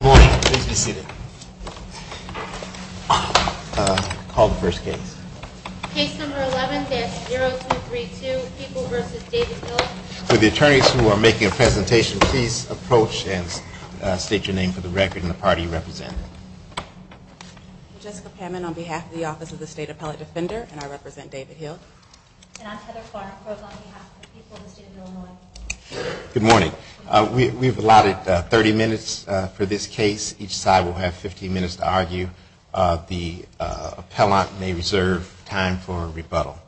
Good morning. Please be seated. Call the first case. Case number 11-0232, People v. David Hill. Will the attorneys who are making a presentation please approach and state your name for the record and the party you represent. I'm Jessica Panman on behalf of the Office of the State Appellate Defender and I represent David Hill. And I'm Heather Clark on behalf of the people of the state of Illinois. Good morning. We've allotted 30 minutes for this case. Each side will have 15 minutes to argue. The appellant may reserve time for rebuttal.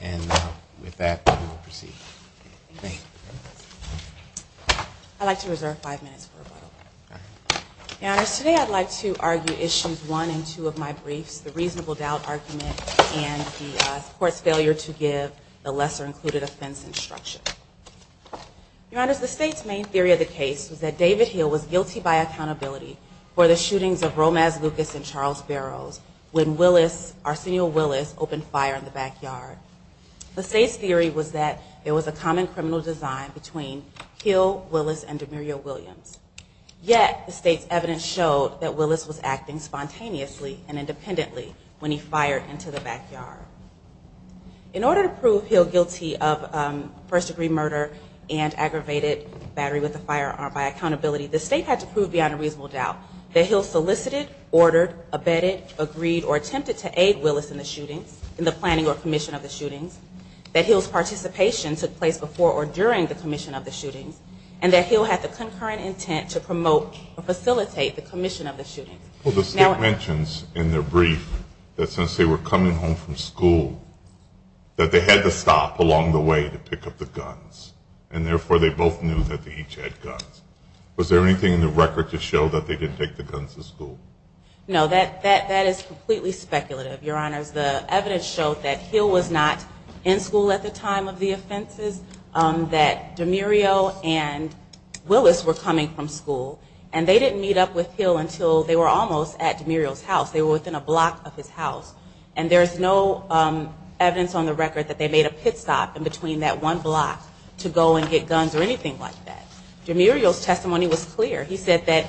And with that, we will proceed. I'd like to reserve five minutes for rebuttal. Your Honors, today I'd like to argue issues one and two of my briefs, the reasonable doubt argument and the court's failure to give the lesser included offense instruction. Your Honors, the state's main theory of the case was that David Hill was guilty by accountability for the shootings of Romaz Lucas and Charles Barrows when Willis, Arsenio Willis, opened fire in the backyard. The state's theory was that it was a common criminal design between Hill, Willis, and Demurio Williams. Yet, the state's evidence showed that Willis was acting spontaneously and independently when he fired into the backyard. In order to prove Hill guilty of first degree murder and aggravated battery with a firearm by accountability, the state had to prove beyond a reasonable doubt that Hill solicited, ordered, abetted, agreed, or attempted to aid Willis in the planning or commission of the shootings, that Hill's participation took place before or during the commission of the shootings, and that Hill had the concurrent intent to promote or facilitate the commission of the shootings. Well, the state mentions in their brief that since they were coming home from school, that they had to stop along the way to pick up the guns, and therefore they both knew that they each had guns. Was there anything in the record to show that they didn't take the guns to school? No, that is completely speculative, Your Honors. The evidence showed that Hill was not in school at the time of the offenses, that Demurio and Willis were coming from school, and they didn't meet up with Hill until they were almost at Demurio's house. They were within a block of his house. And there's no evidence on the record that they made a pit stop in between that one block to go and get guns or anything like that. Demurio's testimony was clear. He said that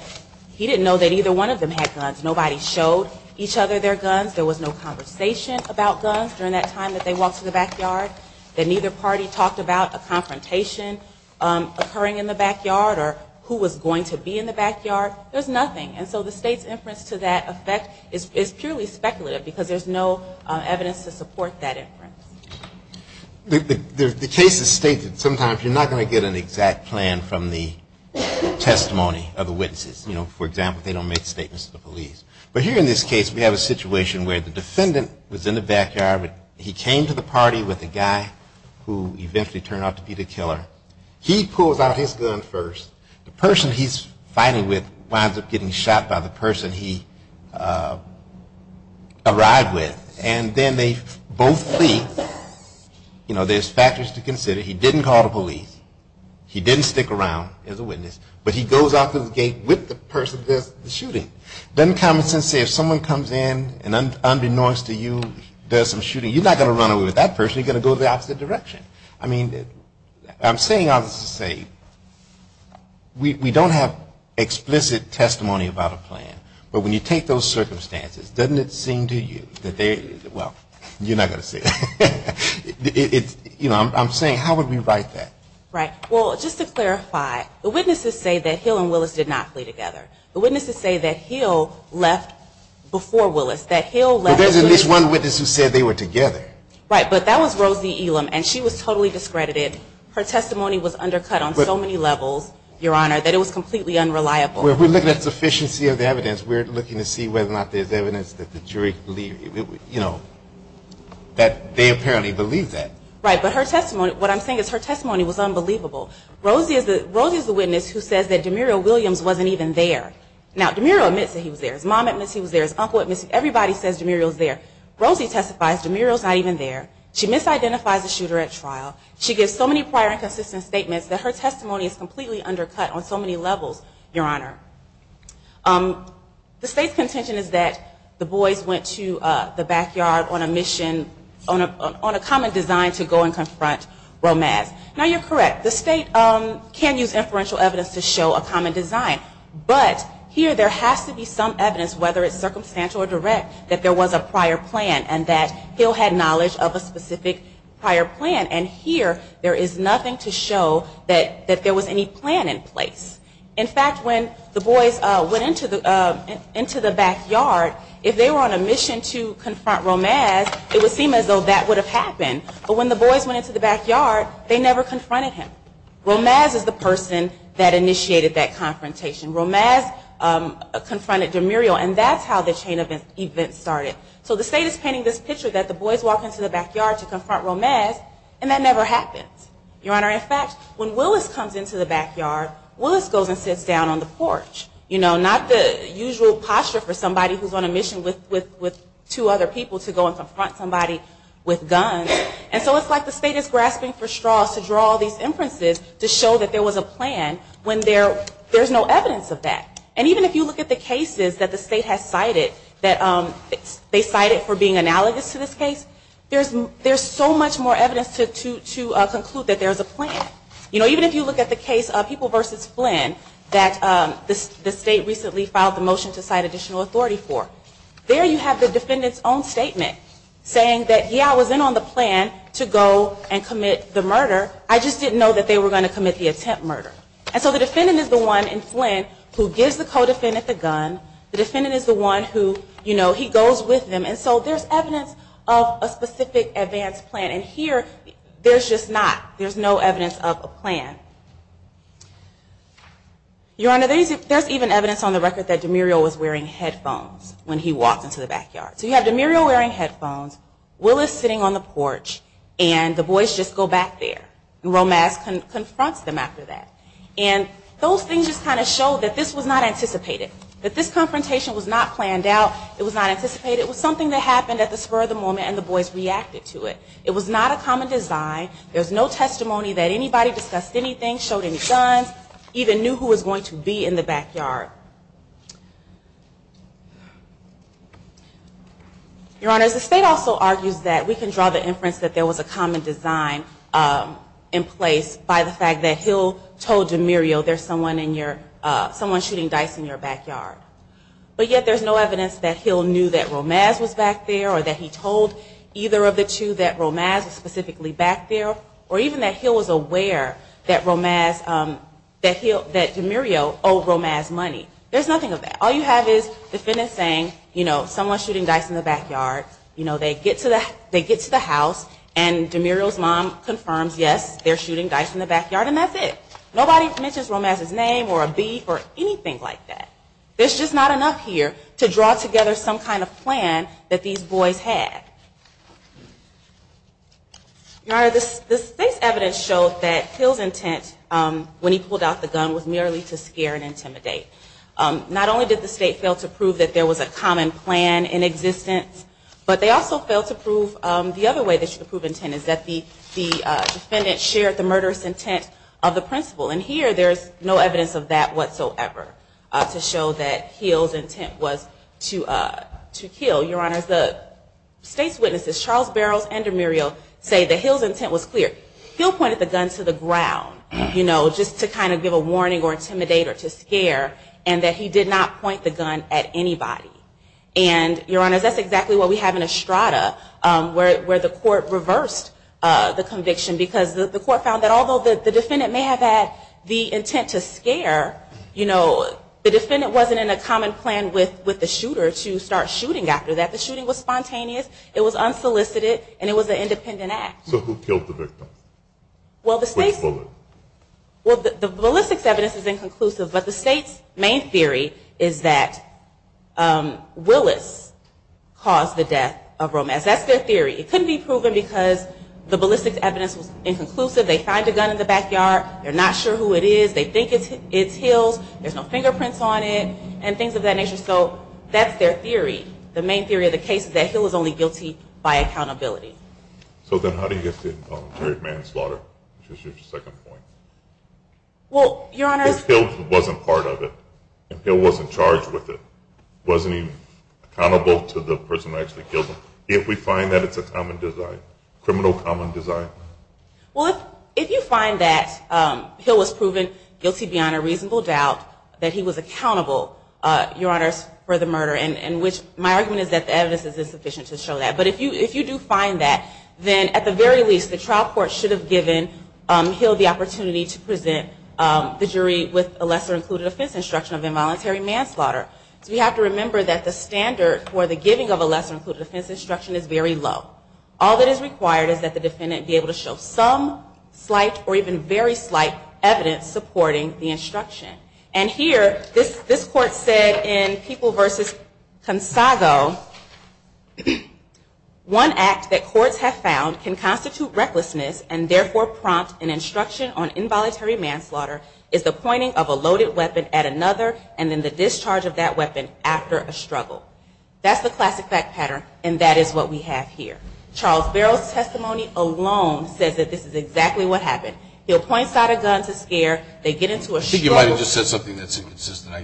he didn't know that either one of them had guns. Nobody showed each other their guns. There was no conversation about guns during that time that they walked through the backyard. That neither party talked about a confrontation occurring in the backyard or who was going to be in the backyard. There's nothing. And so the state's inference to that effect is purely speculative because there's no evidence to support that inference. The case is stated sometimes you're not going to get an exact plan from the testimony of the witnesses. You know, for example, they don't make statements to the police. But here in this case we have a situation where the defendant was in the backyard. He came to the party with a guy who eventually turned out to be the killer. He pulls out his gun first. The person he's fighting with winds up getting shot by the person he arrived with. And then they both flee. You know, there's factors to consider. He didn't call the police. He didn't stick around as a witness. But he goes out to the gate with the person that's shooting. Doesn't common sense say if someone comes in and unbeknownst to you does some shooting, you're not going to run away with that person. You're going to go the opposite direction. I mean, I'm saying, I'll just say, we don't have explicit testimony about a plan. But when you take those circumstances, doesn't it seem to you that they, well, you're not going to say that. It's, you know, I'm saying how would we write that? Right. Well, just to clarify, the witnesses say that Hill and Willis did not flee together. The witnesses say that Hill left before Willis. That Hill left. But there's at least one witness who said they were together. Right. But that was Rosie Elam, and she was totally discredited. Her testimony was undercut on so many levels, Your Honor, that it was completely unreliable. We're looking at sufficiency of the evidence. We're looking to see whether or not there's evidence that the jury, you know, that they apparently believe that. Right. But her testimony, what I'm saying is her testimony was unbelievable. Rosie is the witness who says that Demuriel Williams wasn't even there. Now, Demuriel admits that he was there. His mom admits he was there. His uncle admits. Everybody says Demuriel's there. Rosie testifies Demuriel's not even there. She misidentifies the shooter at trial. She gives so many prior and consistent statements that her testimony is completely undercut on so many levels, Your Honor. The state's contention is that the boys went to the backyard on a mission, on a common design to go and confront Romaz. Now, you're correct. The state can use inferential evidence to show a common design. But here there has to be some evidence, whether it's circumstantial or direct, that there was a prior plan and that he'll have knowledge of a specific prior plan. And here there is nothing to show that there was any plan in place. In fact, when the boys went into the backyard, if they were on a mission to confront Romaz, it would seem as though that would have happened. But when the boys went into the backyard, they never confronted him. Romaz is the person that initiated that confrontation. Romaz confronted Demuriel, and that's how the chain of events started. So the state is painting this picture that the boys walk into the backyard to confront Romaz, and that never happens. Your Honor, in fact, when Willis comes into the backyard, Willis goes and sits down on the porch. You know, not the usual posture for somebody who's on a mission with two other people to go and confront somebody with guns. And so it's like the state is grasping for straws to draw all these inferences to show that there was a plan when there's no evidence of that. And even if you look at the cases that the state has cited, that they cited for being analogous to this case, there's so much more evidence to conclude that there's a plan. You know, even if you look at the case of People v. Flynn that the state recently filed the motion to cite additional authority for, there you have the defendant's own statement saying that, yeah, I was in on the plan to go and commit the murder. I just didn't know that they were going to commit the attempt murder. And so the defendant is the one in Flynn who gives the co-defendant the gun. The defendant is the one who, you know, he goes with them. And so there's evidence of a specific advanced plan. And here, there's just not. There's no evidence of a plan. Your Honor, there's even evidence on the record that Demurio was wearing headphones when he walked into the backyard. So you have Demurio wearing headphones, Willis sitting on the porch, and the boys just go back there. And Romas confronts them after that. And those things just kind of show that this was not anticipated. That this confrontation was not planned out. It was not anticipated. It was something that happened at the spur of the moment, and the boys reacted to it. It was not a common design. There's no testimony that anybody discussed anything, showed any guns, even knew who was going to be in the backyard. Your Honor, the state also argues that we can draw the inference that there was a common design in place by the fact that Hill told Demurio, there's someone shooting dice in your backyard. But yet, there's no evidence that Hill knew that Romas was back there, or that he told either of the two that Romas was specifically back there. Or even that Hill was aware that Romas, that Demurio owed Romas money. There's nothing of that. All you have is the defendant saying, you know, someone's shooting dice in the backyard. You know, they get to the house, and Demurio's mom confirms, yes, they're shooting dice in the backyard. And that's it. Nobody mentions Romas's name or a beat or anything like that. There's just not enough here to draw together some kind of plan that these boys had. Your Honor, the state's evidence showed that Hill's intent when he pulled out the gun was merely to scare and intimidate. Not only did the state fail to prove that there was a common plan in existence, but they also failed to prove, the other way that you can prove intent is that the defendant shared the murderous intent of the principal. And here, there's no evidence of that whatsoever to show that Hill's intent was to kill. Your Honor, the state's witnesses, Charles Barrows and Demurio, say that Hill's intent was clear. Hill pointed the gun to the ground, you know, just to kind of give a warning or intimidate or to scare, and that he did not point the gun at anybody. And, Your Honor, that's exactly what we have in Estrada, where the court reversed the conviction, because the court found that although the defendant may have had the intent to scare, you know, the defendant wasn't in a common plan with the shooter to start shooting after that. The shooting was spontaneous, it was unsolicited, and it was an independent act. So who killed the victim? Which bullet? Well, the ballistics evidence is inconclusive, but the state's main theory is that Willis caused the death of Romas. That's their theory. It couldn't be proven because the ballistics evidence was inconclusive, they find the gun in the backyard, they're not sure who it is, they think it's Hill's, there's no fingerprints on it, and things of that nature. So that's their theory. The main theory of the case is that Hill is only guilty by accountability. So then how do you get the involuntary manslaughter, which is your second point? Well, Your Honor, If Hill wasn't part of it, if Hill wasn't charged with it, wasn't he accountable to the person who actually killed him? If we find that it's a common desire, criminal common desire. Well, if you find that Hill was proven guilty beyond a reasonable doubt, that he was accountable, Your Honor, for the murder, and which my argument is that the evidence is insufficient to show that, but if you do find that, then at the very least, the trial court should have given Hill the opportunity to present the jury with a lesser-included offense instruction of involuntary manslaughter. So we have to remember that the standard for the giving of a lesser-included offense instruction is very low. All that is required is that the defendant be able to show some slight or even very slight evidence supporting the instruction. And here, this court said in People v. Consago, One act that courts have found can constitute recklessness and therefore prompt an instruction on involuntary manslaughter is the pointing of a loaded weapon at another and then the discharge of that weapon after a struggle. That's the classic fact pattern, and that is what we have here. Charles Barrow's testimony alone says that this is exactly what happened. He'll point a gun to scare, they get into a struggle. I think you might have just said something that's inconsistent.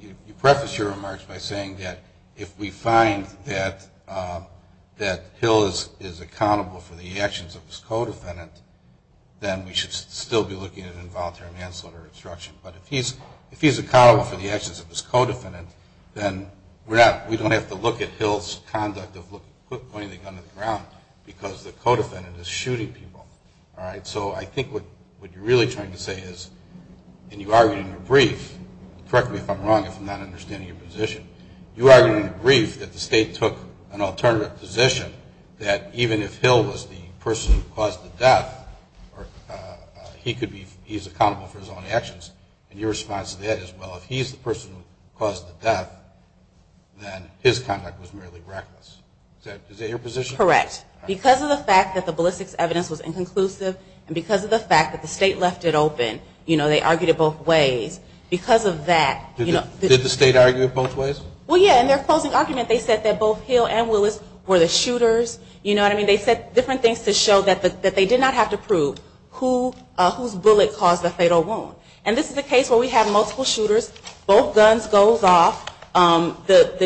You preface your remarks by saying that if we find that Hill is accountable for the actions of his co-defendant, then we should still be looking at involuntary manslaughter instruction. But if he's accountable for the actions of his co-defendant, then we don't have to look at Hill's conduct of pointing the gun to the ground because the co-defendant is shooting people. So I think what you're really trying to say is, and you argued in your brief, correct me if I'm wrong if I'm not understanding your position, you argued in your brief that the State took an alternative position that even if Hill was the person who caused the death, he's accountable for his own actions. And your response to that is, well, if he's the person who caused the death, then his conduct was merely reckless. Is that your position? Correct. Because of the fact that the ballistics evidence was inconclusive, and because of the fact that the State left it open, you know, they argued it both ways. Because of that, you know, Did the State argue it both ways? Well, yeah, in their closing argument they said that both Hill and Willis were the shooters. You know what I mean? They said different things to show that they did not have to prove whose bullet caused the fatal wound. And this is a case where we have multiple shooters, both guns goes off, the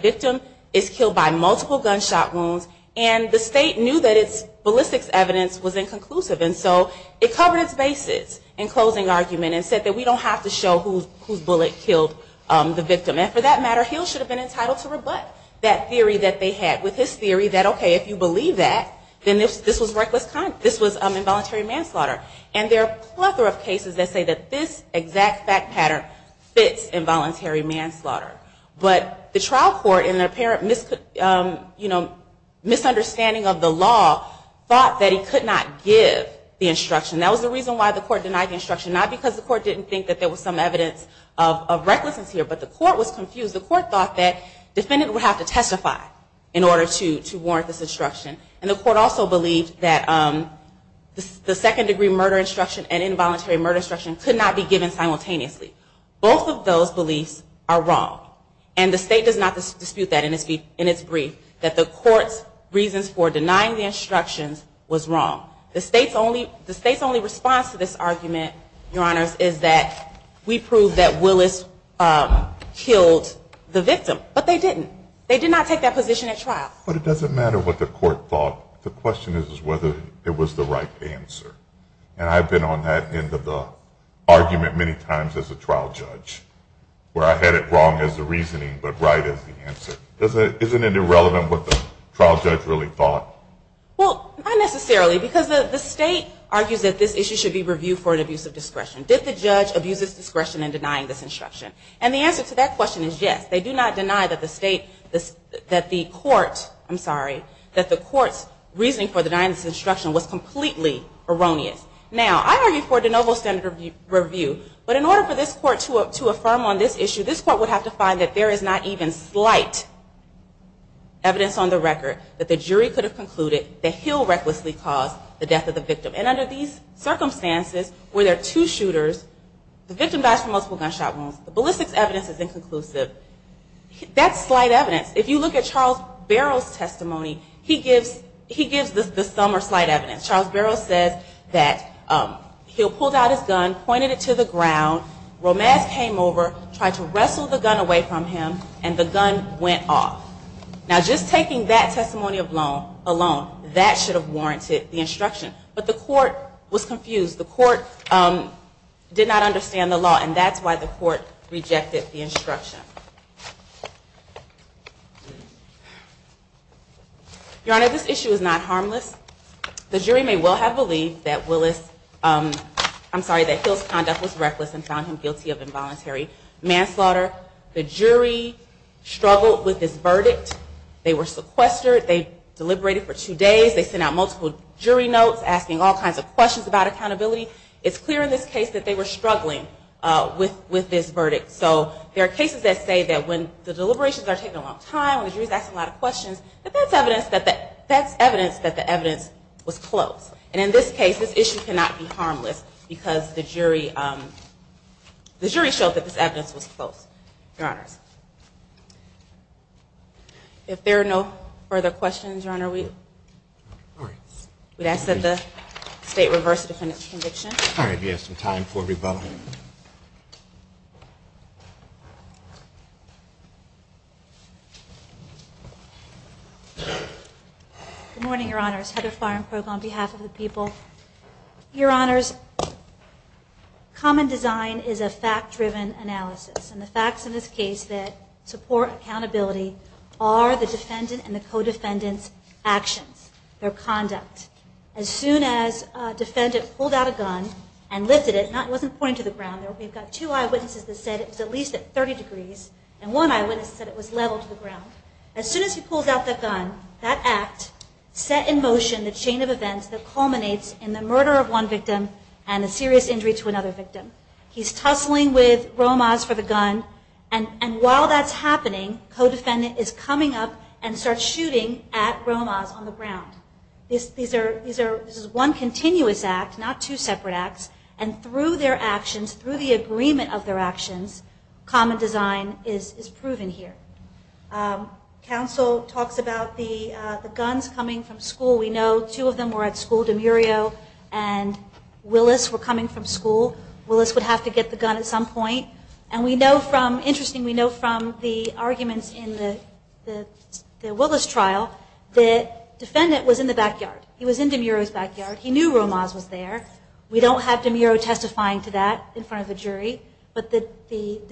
victim is killed by multiple gunshot wounds, and the State knew that its ballistics evidence was inconclusive. And so it covered its bases in closing argument and said that we don't have to show whose bullet killed the victim. And for that matter, Hill should have been entitled to rebut that theory that they had. With his theory that, okay, if you believe that, then this was reckless, this was involuntary manslaughter. And there are a plethora of cases that say that this exact fact pattern fits involuntary manslaughter. But the trial court, in their apparent misunderstanding of the law, thought that he could not give the instruction. That was the reason why the court denied the instruction. Not because the court didn't think that there was some evidence of recklessness here, but the court was confused. The court thought that defendants would have to testify in order to warrant this instruction. And the court also believed that the second-degree murder instruction and involuntary murder instruction could not be given simultaneously. Both of those beliefs are wrong. And the State does not dispute that in its brief, that the court's reasons for denying the instructions was wrong. The State's only response to this argument, Your Honors, is that we proved that Willis killed the victim. But they didn't. They did not take that position at trial. But it doesn't matter what the court thought. The question is whether it was the right answer. And I've been on that end of the argument many times as a trial judge, where I had it wrong as the reasoning but right as the answer. Isn't it irrelevant what the trial judge really thought? Well, not necessarily. Because the State argues that this issue should be reviewed for an abuse of discretion. Did the judge abuse his discretion in denying this instruction? And the answer to that question is yes. They do not deny that the State, that the court, I'm sorry, that the court's reasoning for denying this instruction was completely erroneous. Now, I argue for de novo standard review. But in order for this court to affirm on this issue, this court would have to find that there is not even slight evidence on the record that the jury could have concluded that Hill recklessly caused the death of the victim. And under these circumstances where there are two shooters, the victim dies from multiple gunshot wounds. The ballistics evidence is inconclusive. That's slight evidence. If you look at Charles Barrow's testimony, he gives the sum or slight evidence. Charles Barrow says that Hill pulled out his gun, pointed it to the ground, Romaz came over, tried to wrestle the gun away from him, and the gun went off. Now, just taking that testimony alone, that should have warranted the instruction. But the court was confused. The court did not understand the law, and that's why the court rejected the instruction. Your Honor, this issue is not harmless. The jury may well have believed that Hill's conduct was reckless and found him guilty of involuntary manslaughter. The jury struggled with this verdict. They were sequestered. They deliberated for two days. They sent out multiple jury notes asking all kinds of questions about accountability. It's clear in this case that they were struggling with this verdict. So there are cases that say that when the deliberations are taking a long time, when the jury is asking a lot of questions, that that's evidence that the evidence was close. And in this case, this issue cannot be harmless because the jury showed that this evidence was close. Your Honors. If there are no further questions, Your Honor, we'd ask that the State reverse the defendant's conviction. All right. We have some time for rebuttal. Good morning, Your Honors. Heather Firenbrook on behalf of the people. Your Honors. Common design is a fact-driven analysis, and the facts in this case that support accountability are the defendant and the co-defendant's actions, their conduct. As soon as a defendant pulled out a gun and lifted it, it wasn't pointing to the ground. We've got two eyewitnesses that said it was at least at 30 degrees, and one eyewitness said it was level to the ground. As soon as he pulls out that gun, that act set in motion the chain of events that culminates in the murder of one victim and a serious injury to another victim. He's tussling with Romas for the gun, and while that's happening, co-defendant is coming up and starts shooting at Romas on the ground. This is one continuous act, not two separate acts, and through their actions, through the agreement of their actions, common design is proven here. Counsel talks about the guns coming from school. We know two of them were at school, Demurio and Willis, were coming from school. Willis would have to get the gun at some point, and we know from the arguments in the Willis trial, the defendant was in the backyard. He was in Demurio's backyard. He knew Romas was there. We don't have Demurio testifying to that in front of a jury, but the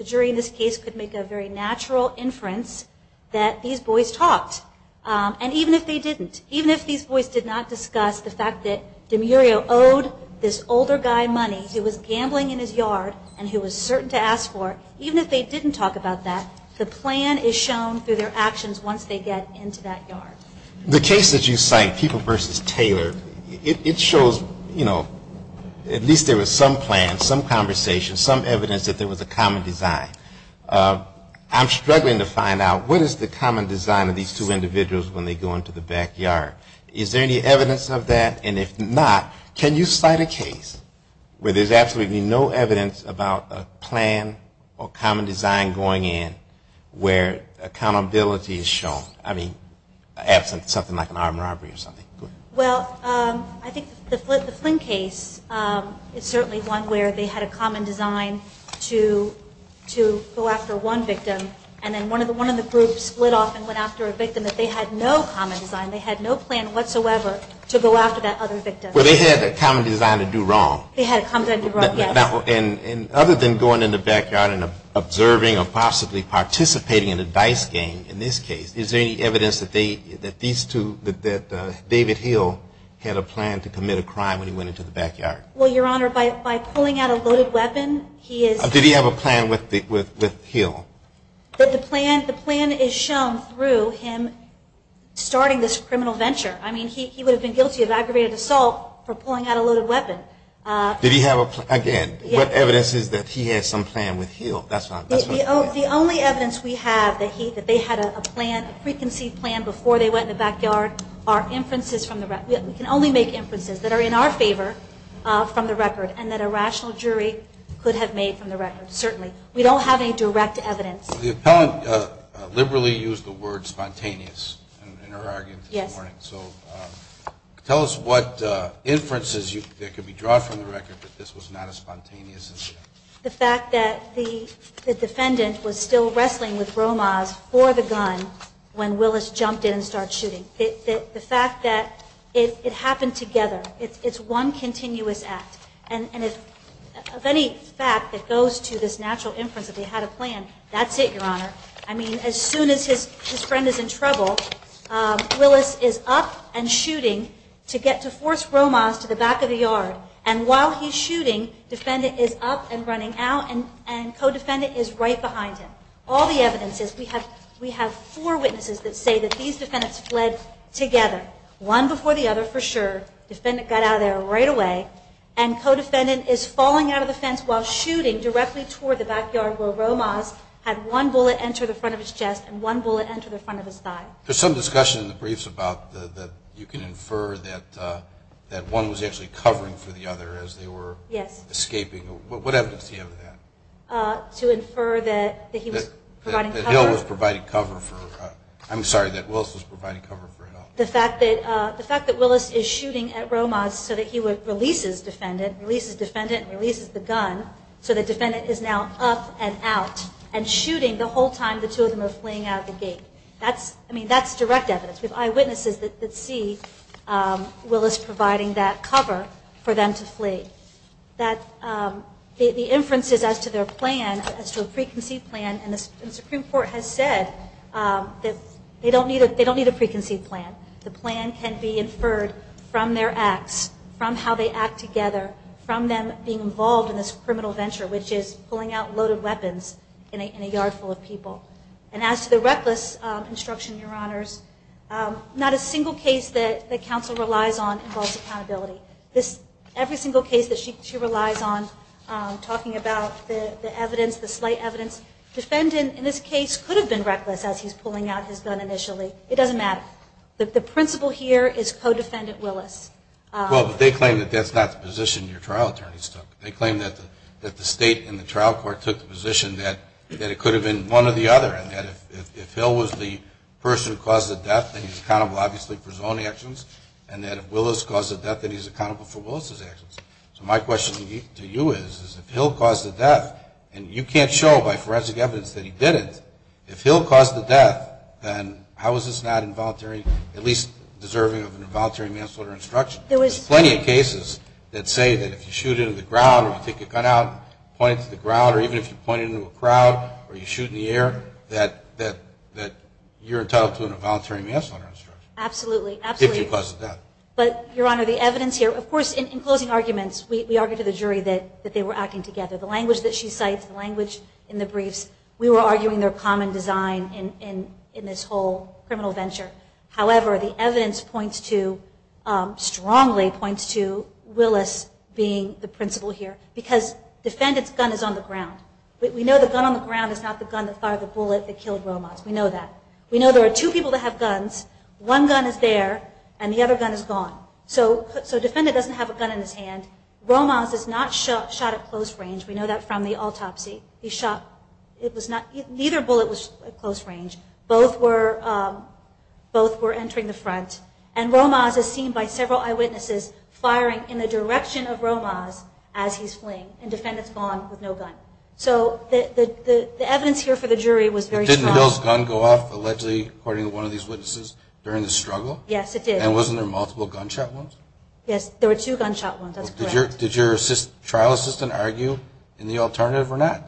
jury in this case could make a very natural inference that these boys talked, and even if they didn't, even if these boys did not discuss the fact that Demurio owed this older guy money, he was gambling in his yard, and he was certain to ask for it, even if they didn't talk about that, the plan is shown through their actions once they get into that yard. The case that you cite, People v. Taylor, it shows, you know, at least there was some plan, some conversation, some evidence that there was a common design. I'm struggling to find out what is the common design of these two individuals when they go into the backyard. Is there any evidence of that? And if not, can you cite a case where there's absolutely no evidence about a plan or common design going in where accountability is shown? I mean, absent something like an armed robbery or something. Well, I think the Flynn case is certainly one where they had a common design to go after one victim, and then one of the groups split off and went after a victim that they had no common design, they had no plan whatsoever to go after that other victim. But they had a common design to do wrong. They had a common design to do wrong, yes. And other than going in the backyard and observing or possibly participating in a dice game in this case, is there any evidence that these two, that David Hill had a plan to commit a crime when he went into the backyard? Well, Your Honor, by pulling out a loaded weapon, he is... Did he have a plan with Hill? The plan is shown through him starting this criminal venture. I mean, he would have been guilty of aggravated assault for pulling out a loaded weapon. Did he have a plan? Again, what evidence is that he had some plan with Hill? The only evidence we have that they had a plan, a preconceived plan before they went in the backyard, are inferences from the record. We can only make inferences that are in our favor from the record and that a rational jury could have made from the record, certainly. We don't have any direct evidence. The appellant liberally used the word spontaneous in her argument this morning. Yes. So tell us what inferences that could be drawn from the record that this was not a spontaneous incident. The fact that the defendant was still wrestling with Romas for the gun when Willis jumped in and started shooting. The fact that it happened together. It's one continuous act. And if any fact that goes to this natural inference that they had a plan, that's it, Your Honor. I mean, as soon as his friend is in trouble, Willis is up and shooting to get to force Romas to the back of the yard. And while he's shooting, defendant is up and running out and co-defendant is right behind him. All the evidence is we have four witnesses that say that these defendants fled together. One before the other for sure. Defendant got out of there right away. And co-defendant is falling out of the fence while shooting directly toward the backyard where Romas had one bullet enter the front of his chest and one bullet enter the front of his thigh. There's some discussion in the briefs about that you can infer that one was actually covering for the other as they were escaping. What evidence do you have of that? To infer that he was providing cover? That Hill was providing cover for... I'm sorry, that Willis was providing cover for Hill. The fact that Willis is shooting at Romas so that he releases defendant, releases defendant and releases the gun so that defendant is now up and out and shooting the whole time the two of them are fleeing out of the gate. That's direct evidence. We have eyewitnesses that see Willis providing that cover for them to flee. The inferences as to their plan, as to a preconceived plan, and the Supreme Court has said that they don't need a preconceived plan. The plan can be inferred from their acts, from how they act together, from them being involved in this criminal venture, which is pulling out loaded weapons in a yard full of people. And as to the reckless instruction, Your Honors, not a single case that counsel relies on involves accountability. Every single case that she relies on, talking about the evidence, the slight evidence, defendant in this case could have been reckless as he's pulling out his gun initially. It doesn't matter. The principle here is co-defendant Willis. Well, but they claim that that's not the position your trial attorneys took. They claim that the state and the trial court took the position that it could have been one or the other, and that if Hill was the person who caused the death, then he's accountable, obviously, for his own actions, and that if Willis caused the death, then he's accountable for Willis's actions. So my question to you is, if Hill caused the death, and you can't show by forensic evidence that he didn't, if Hill caused the death, then how is this not involuntary, at least deserving of an involuntary manslaughter instruction? There's plenty of cases that say that if you shoot into the ground or if you take a gun out, point it to the ground, or even if you point it into a crowd, or you shoot in the air, that you're entitled to an involuntary manslaughter instruction. Absolutely, absolutely. If you caused the death. But, Your Honor, the evidence here, of course, in closing arguments, we argued to the jury that they were acting together. The language that she cites, the language in the briefs, we were arguing their common design in this whole criminal venture. However, the evidence points to, strongly points to, Willis being the principal here. Because defendant's gun is on the ground. We know the gun on the ground is not the gun that fired the bullet that killed Romas. We know that. We know there are two people that have guns. One gun is there, and the other gun is gone. So defendant doesn't have a gun in his hand. Romas is not shot at close range. We know that from the autopsy. He shot, it was not, neither bullet was at close range. Both were entering the front. And Romas is seen by several eyewitnesses firing in the direction of Romas as he's fleeing. And defendant's gone with no gun. So the evidence here for the jury was very strong. Didn't the gun go off, allegedly, according to one of these witnesses, during the struggle? Yes, it did. And wasn't there multiple gunshot wounds? Yes, there were two gunshot wounds. That's correct. Did your trial assistant argue in the alternative or not?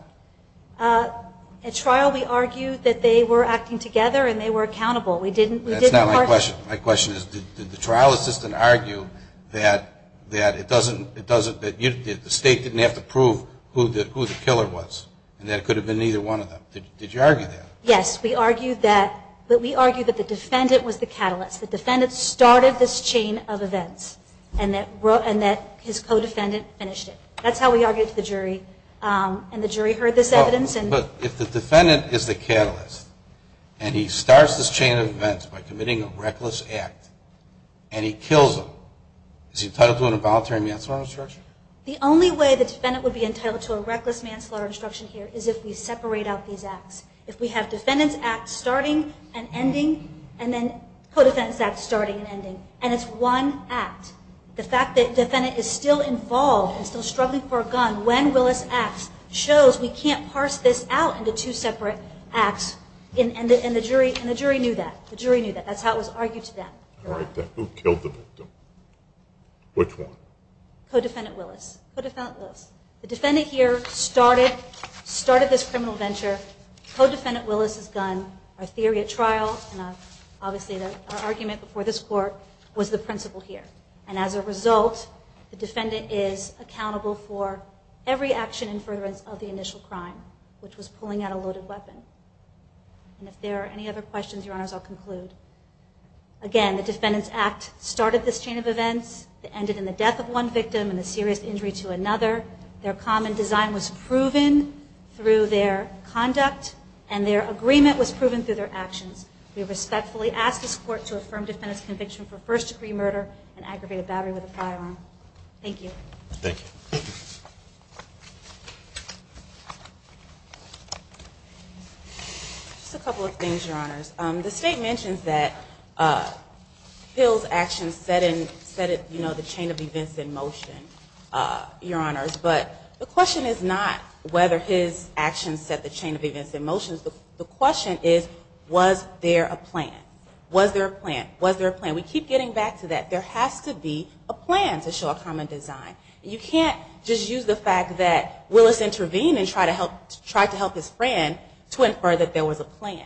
At trial, we argued that they were acting together and they were accountable. That's not my question. My question is, did the trial assistant argue that it doesn't, that the state didn't have to prove who the killer was, and that it could have been either one of them? Did you argue that? Yes, we argued that. But we argued that the defendant was the catalyst. The defendant started this chain of events, and that his co-defendant finished it. That's how we argued to the jury. And the jury heard this evidence. But if the defendant is the catalyst, and he starts this chain of events by committing a reckless act, and he kills him, is he entitled to an involuntary manslaughter instruction? The only way the defendant would be entitled to a reckless manslaughter instruction here is if we separate out these acts. If we have defendant's act starting and ending, and then co-defendant's act starting and ending, and it's one act, the fact that the defendant is still involved and still struggling for a gun, when Willis acts, shows we can't parse this out into two separate acts. And the jury knew that. The jury knew that. That's how it was argued to them. All right. Then who killed the victim? Which one? Co-defendant Willis. Co-defendant Willis. The defendant here started this criminal venture. Co-defendant Willis's gun, our theory at trial, and obviously our argument before this court, was the principle here. And as a result, the defendant is accountable for every action in furtherance of the initial crime, which was pulling out a loaded weapon. And if there are any other questions, Your Honors, I'll conclude. Again, the defendant's act started this chain of events. It ended in the death of one victim and a serious injury to another. Their common design was proven through their conduct, and their agreement was proven through their actions. We respectfully ask this court to affirm defendant's conviction for first-degree murder and aggravated battery with a firearm. Thank you. Thank you. Just a couple of things, Your Honors. The state mentions that Hill's actions set the chain of events in motion, Your Honors, but the question is not whether his actions set the chain of events in motion. The question is, was there a plan? Was there a plan? Was there a plan? And we keep getting back to that. There has to be a plan to show a common design. You can't just use the fact that Willis intervened and tried to help his friend to infer that there was a plan.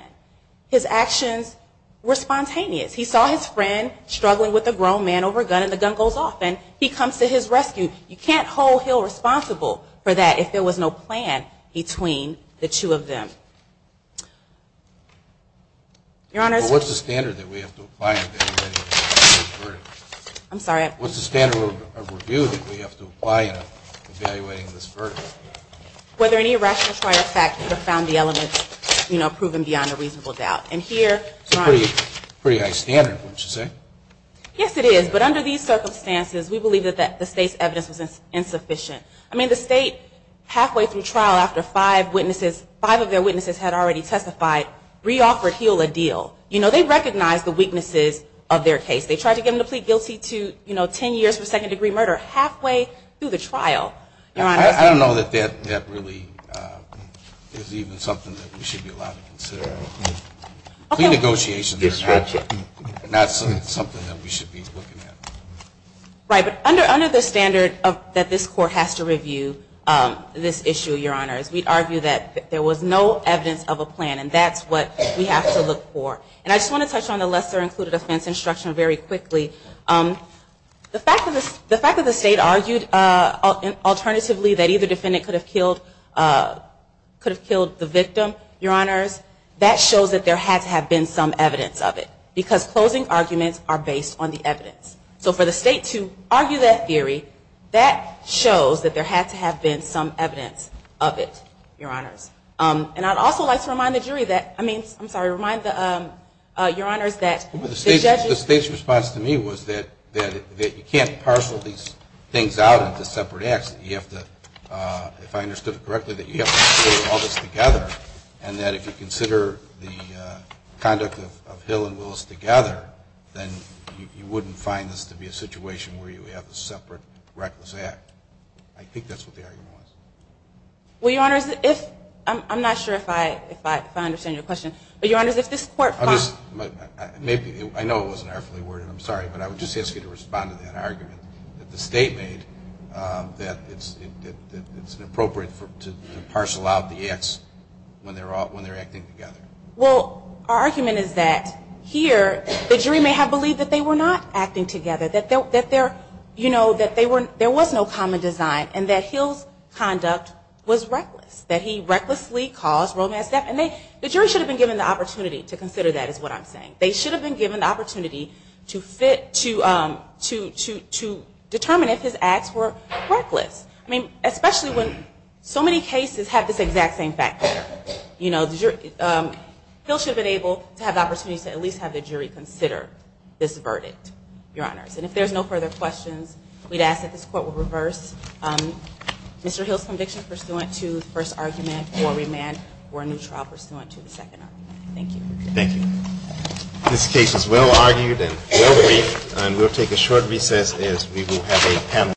His actions were spontaneous. He saw his friend struggling with a grown man over a gun, and the gun goes off, and he comes to his rescue. You can't hold Hill responsible for that if there was no plan between the two of them. Your Honors, but what's the standard that we have to apply in evaluating this verdict? I'm sorry. What's the standard of review that we have to apply in evaluating this verdict? Whether any rational try or fact could have found the elements, you know, proven beyond a reasonable doubt. It's a pretty high standard, wouldn't you say? Yes, it is, but under these circumstances, we believe that the state's evidence was insufficient. I mean, the state, halfway through trial after five of their witnesses had already testified, reoffered Hill a deal. You know, they recognized the weaknesses of their case. They tried to give him the plea guilty to, you know, ten years for second degree murder, halfway through the trial. Your Honors. I don't know that that really is even something that we should be allowed to consider. Okay. Plea negotiations are not something that we should be looking at. Right, but under the standard that this Court has to review this issue, Your Honors, we'd argue that there was no evidence of a plan, and that's what we have to look for. And I just want to touch on the lesser included offense instruction very quickly. The fact that the state argued alternatively that either defendant could have killed the victim, Your Honors, that shows that there had to have been some evidence of it, because closing arguments are based on the evidence. So for the state to argue that theory, that shows that there had to have been some evidence of it, Your Honors. And I'd also like to remind the jury that, I mean, I'm sorry, remind the, Your Honors, that the judges, The state's response to me was that you can't parcel these things out into separate acts. You have to, if I understood it correctly, that you have to put all this together, and that if you consider the conduct of Hill and Willis together, then you wouldn't find this to be a situation where you have a separate reckless act. I think that's what the argument was. Well, Your Honors, if, I'm not sure if I understand your question, but Your Honors, if this court finds, Maybe, I know it wasn't airfully worded, I'm sorry, but I would just ask you to respond to that argument that the state made, that it's inappropriate to parcel out the acts when they're acting together. Well, our argument is that here, the jury may have believed that they were not acting together, that there, you know, that there was no common design, and that Hill's conduct was reckless, that he recklessly caused romance theft, and they, the jury should have been given the opportunity to consider that, is what I'm saying. They should have been given the opportunity to fit, to, to, to, to determine if his acts were reckless. I mean, especially when so many cases have this exact same factor. You know, the jury, Hill should have been able to have the opportunity to at least have the jury consider this verdict, Your Honors, and if there's no further questions, we'd ask that this Court will reverse Mr. Hill's conviction pursuant to the first argument for remand for a new trial pursuant to the second argument. Thank you. Thank you. This case is well argued and well briefed, and we'll take a short recess as we will have a panel.